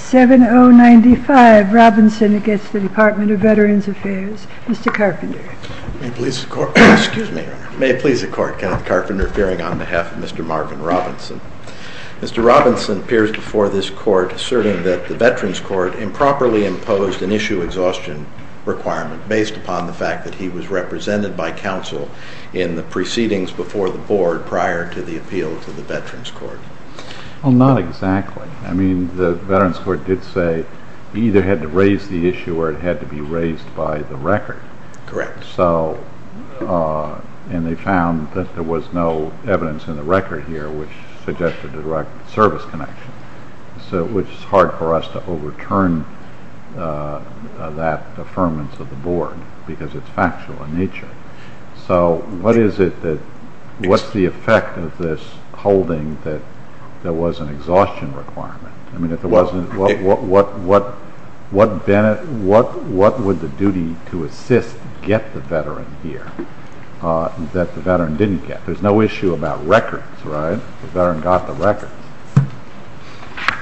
7095 Robinson v. Department of Veterans Affairs, Mr. Carpenter. May it please the Court, Kenneth Carpenter, appearing on behalf of Mr. Marvin Robinson. Mr. Robinson appears before this Court asserting that the Veterans Court improperly imposed an issue exhaustion requirement based upon the fact that he was represented by counsel in the proceedings before the Board prior to the appeal to the Veterans Court. Well, not exactly. I mean, the Veterans Court did say it either had to raise the issue or it had to be raised by the record. Correct. And they found that there was no evidence in the record here which suggested a direct service connection, which is hard for us to overturn that affirmance of the Board because it's factual in nature. So what's the effect of this holding that there was an exhaustion requirement? I mean, if there wasn't, what would the duty to assist get the Veteran here that the Veteran didn't get? There's no issue about records, right? The Veteran got the records.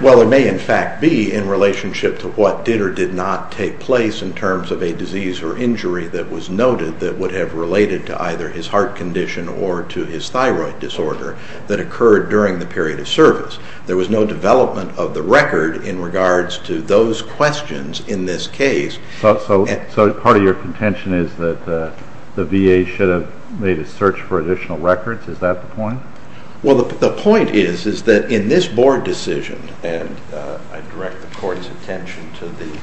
Well, it may in fact be in relationship to what did or did not take place in terms of a disease or injury that was noted that would have related to either his heart condition or to his thyroid disorder that occurred during the period of service. There was no development of the record in regards to those questions in this case. So part of your contention is that the VA should have made a search for additional records? Is that the point? Well, the point is that in this Board decision, and I direct the Court's attention to the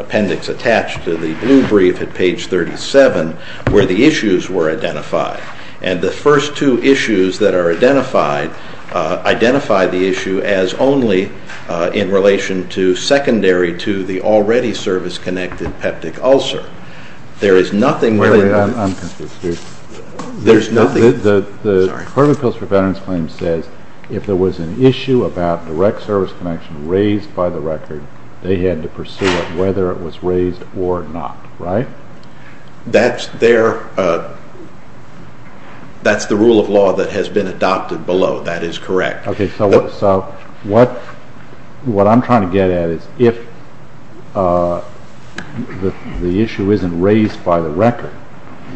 appendix attached to the blue brief at page 37, where the issues were identified. And the first two issues that are identified identify the issue as only in relation to secondary to the already service-connected peptic ulcer. The Department of Appeals for Veterans Claims says if there was an issue about direct service connection raised by the record, they had to pursue it whether it was raised or not, right? That's the rule of law that has been adopted below. That is correct. Okay, so what I'm trying to get at is if the issue isn't raised by the record,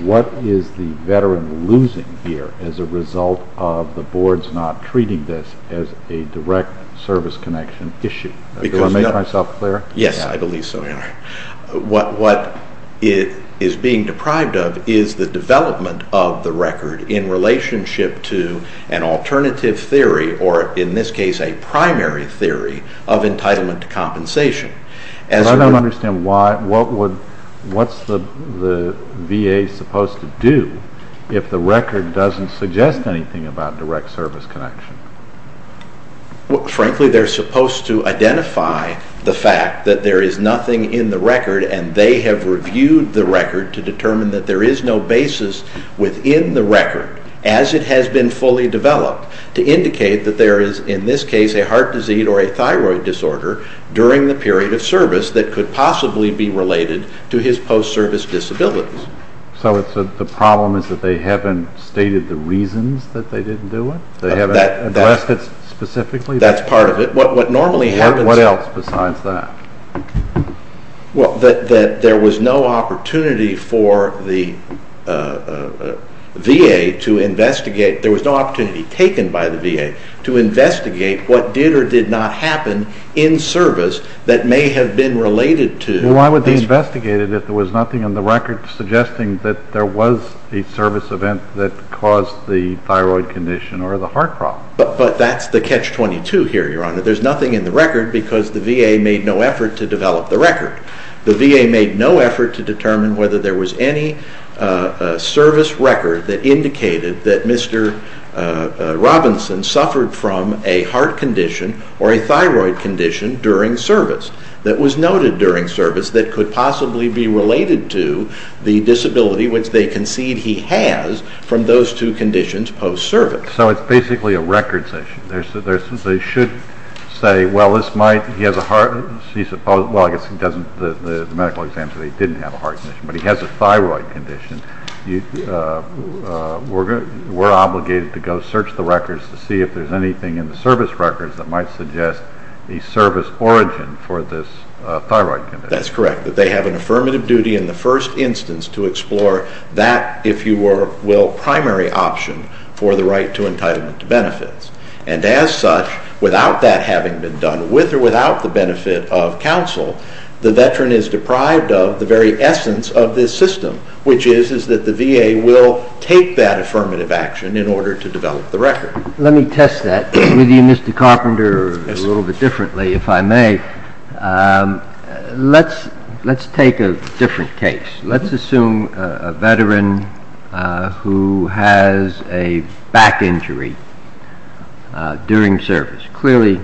what is the Veteran losing here as a result of the Board's not treating this as a direct service connection issue? Do I make myself clear? Yes, I believe so. What it is being deprived of is the development of the record in relationship to an alternative theory, or in this case a primary theory, of entitlement to compensation. But I don't understand what's the VA supposed to do if the record doesn't suggest anything about direct service connection? Frankly, they're supposed to identify the fact that there is nothing in the record, and they have reviewed the record to determine that there is no basis within the record, as it has been fully developed, to indicate that there is, in this case, a heart disease or a thyroid disorder during the period of service that could possibly be related to his post-service disabilities. So the problem is that they haven't stated the reasons that they didn't do it? They haven't addressed it specifically? That's part of it. What normally happens... What else besides that? Well, that there was no opportunity for the VA to investigate. There was no opportunity taken by the VA to investigate what did or did not happen in service that may have been related to... You're suggesting that there was a service event that caused the thyroid condition or the heart problem. But that's the catch-22 here, Your Honor. There's nothing in the record because the VA made no effort to develop the record. The VA made no effort to determine whether there was any service record that indicated that Mr. Robinson suffered from a heart condition or a thyroid condition during service, that was noted during service that could possibly be related to the disability which they concede he has from those two conditions post-service. So it's basically a records issue. They should say, well, he has a heart... Well, I guess the medical exams say he didn't have a heart condition, but he has a thyroid condition. We're obligated to go search the records to see if there's anything in the service records that might suggest a service origin for this thyroid condition. That's correct, that they have an affirmative duty in the first instance to explore that, if you will, primary option for the right to entitlement to benefits. And as such, without that having been done with or without the benefit of counsel, the veteran is deprived of the very essence of this system, which is that the VA will take that affirmative action in order to develop the record. Let me test that with you, Mr. Carpenter, a little bit differently, if I may. Let's take a different case. Let's assume a veteran who has a back injury during service. Clearly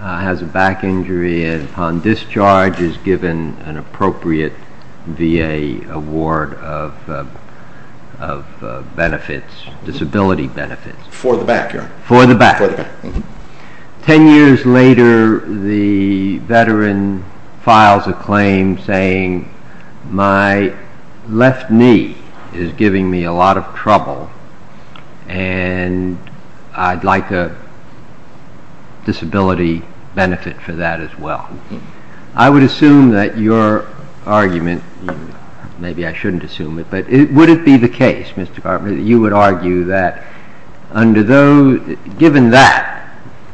has a back injury and on discharge is given an appropriate VA award of benefits, disability benefits. For the back, yeah. For the back. For the back. Ten years later, the veteran files a claim saying my left knee is giving me a lot of trouble and I'd like a disability benefit for that as well. I would assume that your argument, maybe I shouldn't assume it, but would it be the case, Mr. Carpenter, that you would argue that given that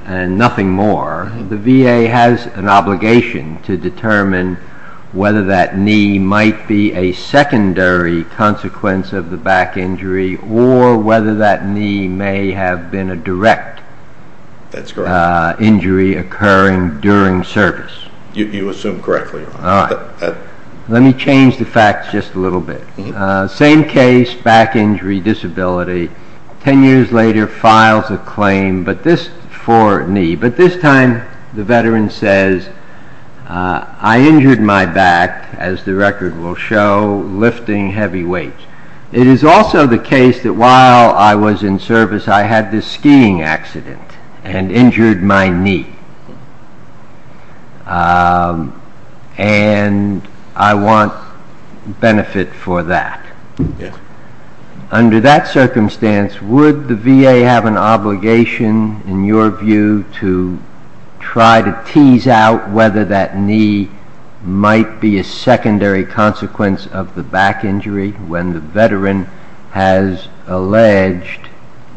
and nothing more, the VA has an obligation to determine whether that knee might be a secondary consequence of the back injury or whether that knee may have been a direct injury occurring during service? You assume correctly. All right. Let me change the facts just a little bit. Same case, back injury, disability. Ten years later, files a claim for knee. But this time the veteran says I injured my back, as the record will show, lifting heavy weights. It is also the case that while I was in service I had this skiing accident and injured my knee. And I want benefit for that. Yes. Under that circumstance, would the VA have an obligation, in your view, to try to tease out whether that knee might be a secondary consequence of the back injury when the veteran has alleged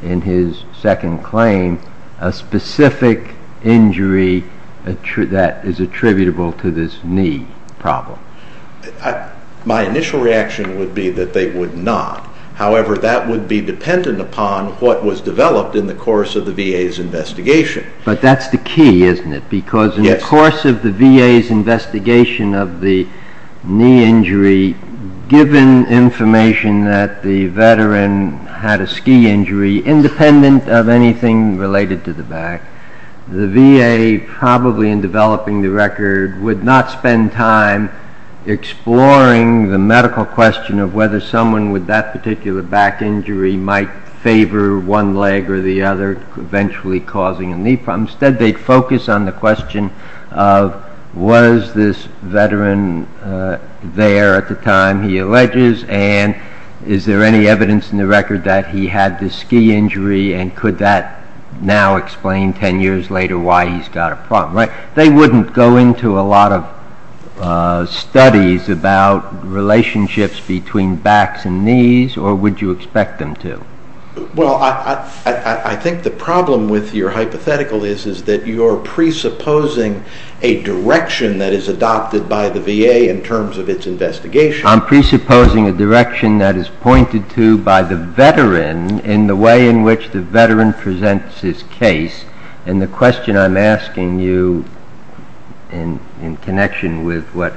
in his second claim a specific injury that is attributable to this knee problem? My initial reaction would be that they would not. However, that would be dependent upon what was developed in the course of the VA's investigation. But that's the key, isn't it? Yes. In the course of the VA's investigation of the knee injury, given information that the veteran had a ski injury, independent of anything related to the back, the VA, probably in developing the record, would not spend time exploring the medical question of whether someone with that particular back injury might favor one leg or the other, eventually causing a knee problem. Instead, they'd focus on the question of was this veteran there at the time he alleges and is there any evidence in the record that he had this ski injury and could that now explain ten years later why he's got a problem, right? They wouldn't go into a lot of studies about relationships between backs and knees or would you expect them to? Well, I think the problem with your hypothetical is that you're presupposing a direction that is adopted by the VA in terms of its investigation. I'm presupposing a direction that is pointed to by the veteran in the way in which the veteran presents his case. And the question I'm asking you in connection with what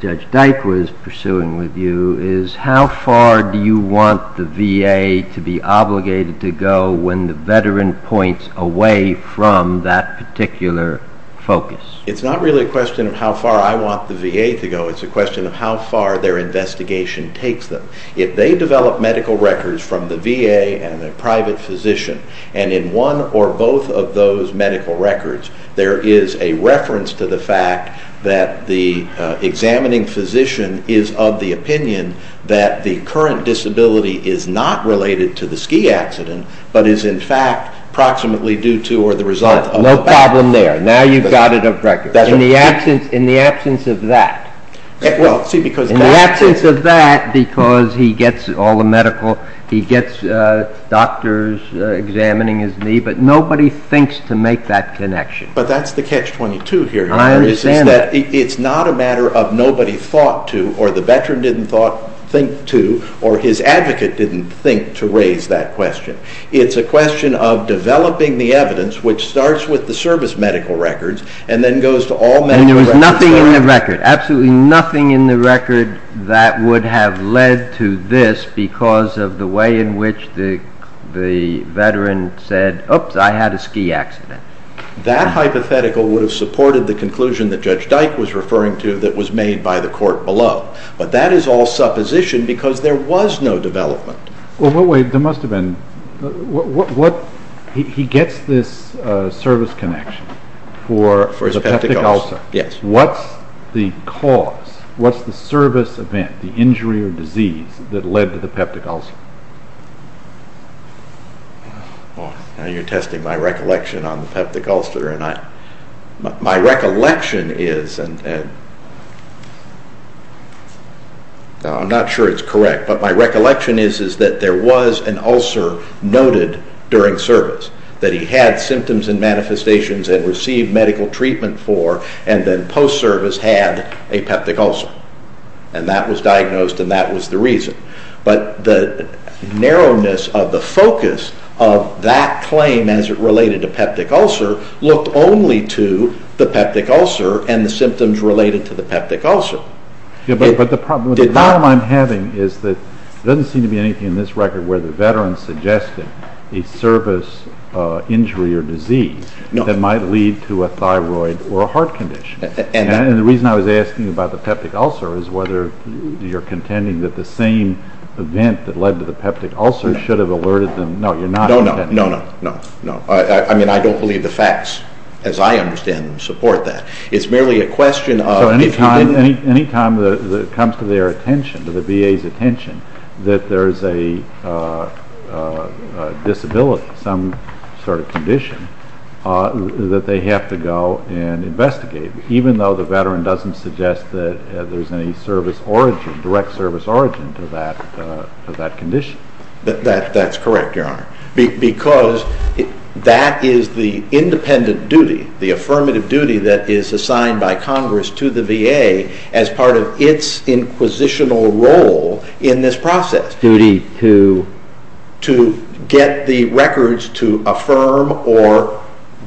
Judge Dyke was pursuing with you is how far do you want the VA to be obligated to go when the veteran points away from that particular focus? It's not really a question of how far I want the VA to go. It's a question of how far their investigation takes them. If they develop medical records from the VA and a private physician and in one or both of those medical records there is a reference to the fact that the examining physician is of the opinion that the current disability is not related to the ski accident but is in fact approximately due to or the result of the back injury. No problem there. Now you've got it on record. In the absence of that. In the absence of that because he gets all the medical, he gets doctors examining his knee, but nobody thinks to make that connection. But that's the catch-22 here. I understand that. It's not a matter of nobody thought to or the veteran didn't think to or his advocate didn't think to raise that question. It's a question of developing the evidence which starts with the service medical records and then goes to all medical records. And there was nothing in the record, absolutely nothing in the record that would have led to this because of the way in which the veteran said, oops, I had a ski accident. That hypothetical would have supported the conclusion that Judge Dyke was referring to that was made by the court below. But that is all supposition because there was no development. There must have been. He gets this service connection for his peptic ulcer. Yes. What's the cause? What's the service event, the injury or disease that led to the peptic ulcer? You're testing my recollection on the peptic ulcer. My recollection is, I'm not sure it's correct, but my recollection is that there was an ulcer noted during service that he had symptoms and manifestations and received medical treatment for and then post-service had a peptic ulcer. And that was diagnosed and that was the reason. But the narrowness of the focus of that claim as it related to peptic ulcer looked only to the peptic ulcer and the symptoms related to the peptic ulcer. But the problem I'm having is that there doesn't seem to be anything in this record where the veteran suggested a service injury or disease that might lead to a thyroid or a heart condition. And the reason I was asking about the peptic ulcer is whether you're contending that the same event that led to the peptic ulcer should have alerted them. No, you're not contending. No, no, no, no. I mean, I don't believe the facts as I understand them support that. It's merely a question of... Any time it comes to their attention, to the VA's attention, that there's a disability, some sort of condition, that they have to go and investigate, even though the veteran doesn't suggest that there's any service origin, direct service origin to that condition. That's correct, Your Honor, because that is the independent duty, the affirmative duty that is assigned by Congress to the VA as part of its inquisitional role in this process. Duty to... To get the records to affirm or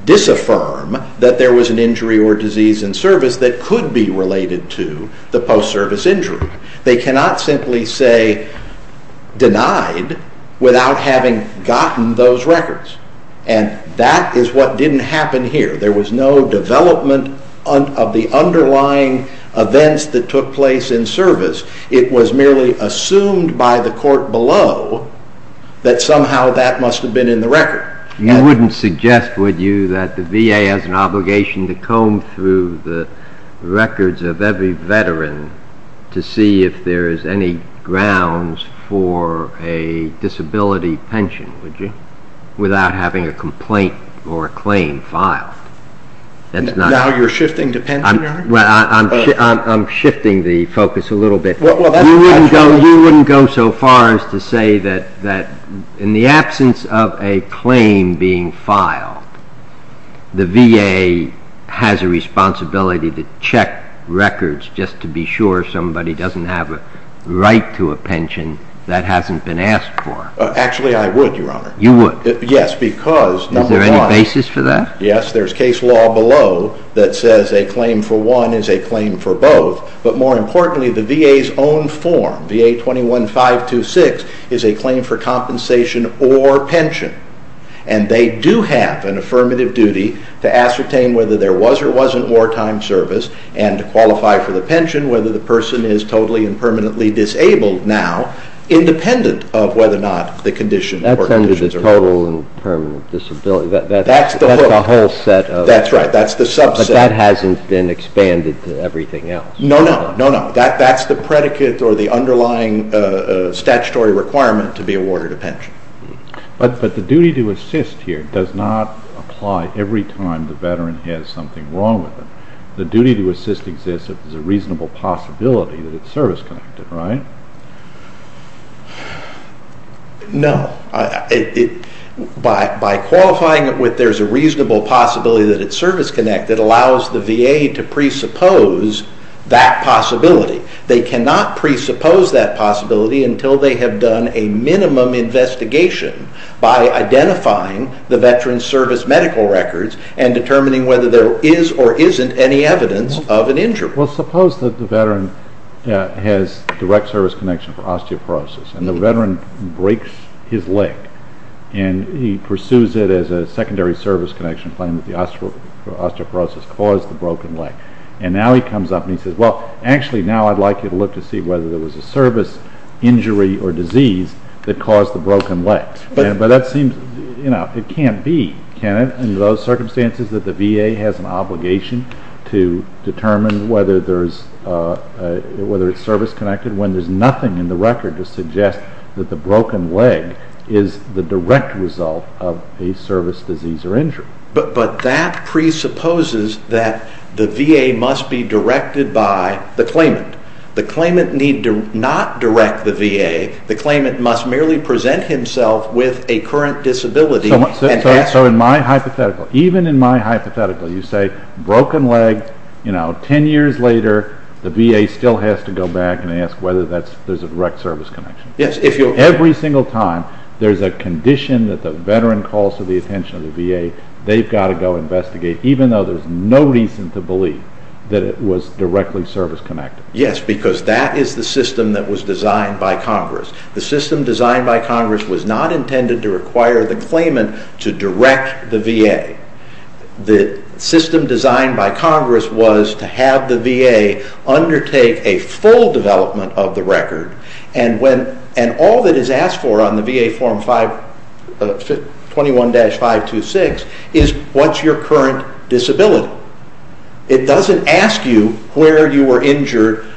disaffirm that there was an injury or disease in service that could be related to the post-service injury. They cannot simply say denied without having gotten those records, and that is what didn't happen here. There was no development of the underlying events that took place in service. It was merely assumed by the court below that somehow that must have been in the record. You wouldn't suggest, would you, that the VA has an obligation to comb through the records of every veteran to see if there is any grounds for a disability pension, would you, without having a complaint or a claim filed? Now you're shifting to pension, Your Honor? I'm shifting the focus a little bit. You wouldn't go so far as to say that in the absence of a claim being filed, the VA has a responsibility to check records just to be sure somebody doesn't have a right to a pension that hasn't been asked for? Actually, I would, Your Honor. You would? Yes, because... Is there any basis for that? Yes, there's case law below that says a claim for one is a claim for both, but more importantly, the VA's own form, VA 21-526, is a claim for compensation or pension, and they do have an affirmative duty to ascertain whether there was or wasn't wartime service and to qualify for the pension whether the person is totally and permanently disabled now, independent of whether or not the condition or conditions are met. That's the whole set of... That's right, that's the subset. But that hasn't been expanded to everything else. No, no, no, no. That's the predicate or the underlying statutory requirement to be awarded a pension. But the duty to assist here does not apply every time the veteran has something wrong with them. The duty to assist exists if there's a reasonable possibility that it's service-connected, right? No. By qualifying it with there's a reasonable possibility that it's service-connected allows the VA to presuppose that possibility. They cannot presuppose that possibility until they have done a minimum investigation by identifying the veteran's service medical records and determining whether there is or isn't any evidence of an injury. Well, suppose that the veteran has direct service connection for osteoporosis and the veteran breaks his leg and he pursues it as a secondary service connection claim that the osteoporosis caused the broken leg. And now he comes up and he says, well, actually now I'd like you to look to see whether there was a service injury or disease that caused the broken leg. But that seems, you know, it can't be, can it, in those circumstances that the VA has an obligation to determine whether it's service-connected when there's nothing in the record to suggest that the broken leg is the direct result of a service disease or injury. But that presupposes that the VA must be directed by the claimant. The claimant need not direct the VA. The claimant must merely present himself with a current disability. So in my hypothetical, even in my hypothetical, you say broken leg, you know, ten years later the VA still has to go back and ask whether there's a direct service connection. Yes. Every single time there's a condition that the veteran calls for the attention of the VA, they've got to go investigate, even though there's no reason to believe that it was directly service-connected. Yes, because that is the system that was designed by Congress. The system designed by Congress was not intended to require the claimant to direct the VA. The system designed by Congress was to have the VA undertake a full development of the record, and all that is asked for on the VA Form 21-526 is what's your current disability. It doesn't ask you where you were injured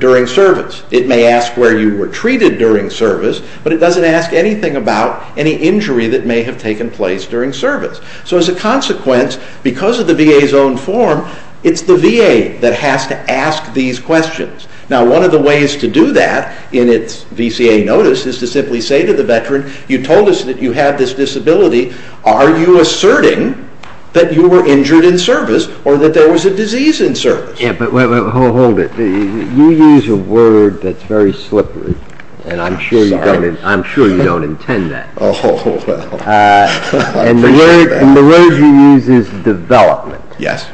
during service. It may ask where you were treated during service, but it doesn't ask anything about any injury that may have taken place during service. So as a consequence, because of the VA's own form, it's the VA that has to ask these questions. Now, one of the ways to do that in its VCA notice is to simply say to the veteran, you told us that you have this disability. Are you asserting that you were injured in service or that there was a disease in service? Yeah, but hold it. You use a word that's very slippery, and I'm sure you don't intend that. Oh, well. And the word you use is development. Yes.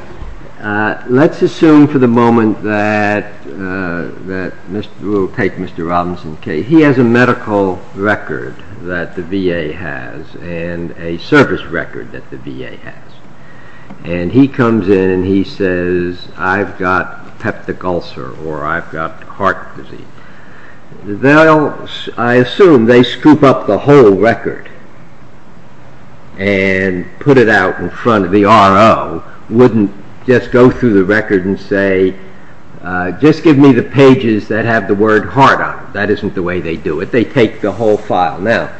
Let's assume for the moment that Mr. Robinson, he has a medical record that the VA has and a service record that the VA has, and he comes in and he says, I've got peptic ulcer or I've got heart disease. Well, I assume they scoop up the whole record and put it out in front of the RO, wouldn't just go through the record and say, just give me the pages that have the word heart on them. That isn't the way they do it. They take the whole file. Well,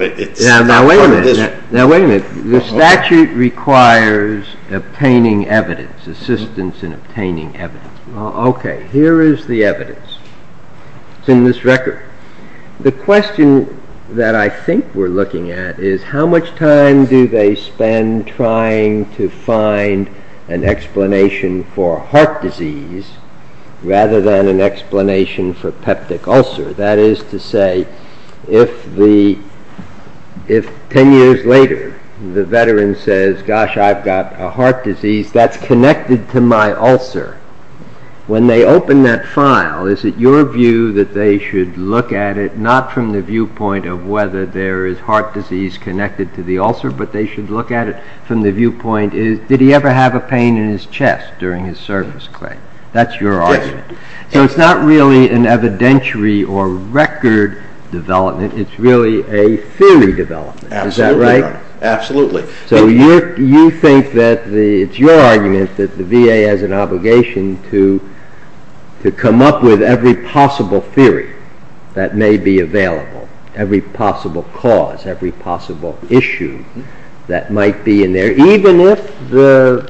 it's… Now, wait a minute. The statute requires obtaining evidence, assistance in obtaining evidence. Okay, here is the evidence. It's in this record. The question that I think we're looking at is how much time do they spend trying to find an explanation for heart disease rather than an explanation for peptic ulcer? That is to say, if 10 years later the veteran says, gosh, I've got a heart disease that's connected to my ulcer, when they open that file, is it your view that they should look at it not from the viewpoint of whether there is heart disease connected to the ulcer, but they should look at it from the viewpoint, did he ever have a pain in his chest during his service claim? That's your argument. So it's not really an evidentiary or record development. It's really a theory development. Is that right? Absolutely, Your Honor. Absolutely. So you think that it's your argument that the VA has an obligation to come up with every possible theory that may be available, every possible cause, every possible issue that might be in there, even if the…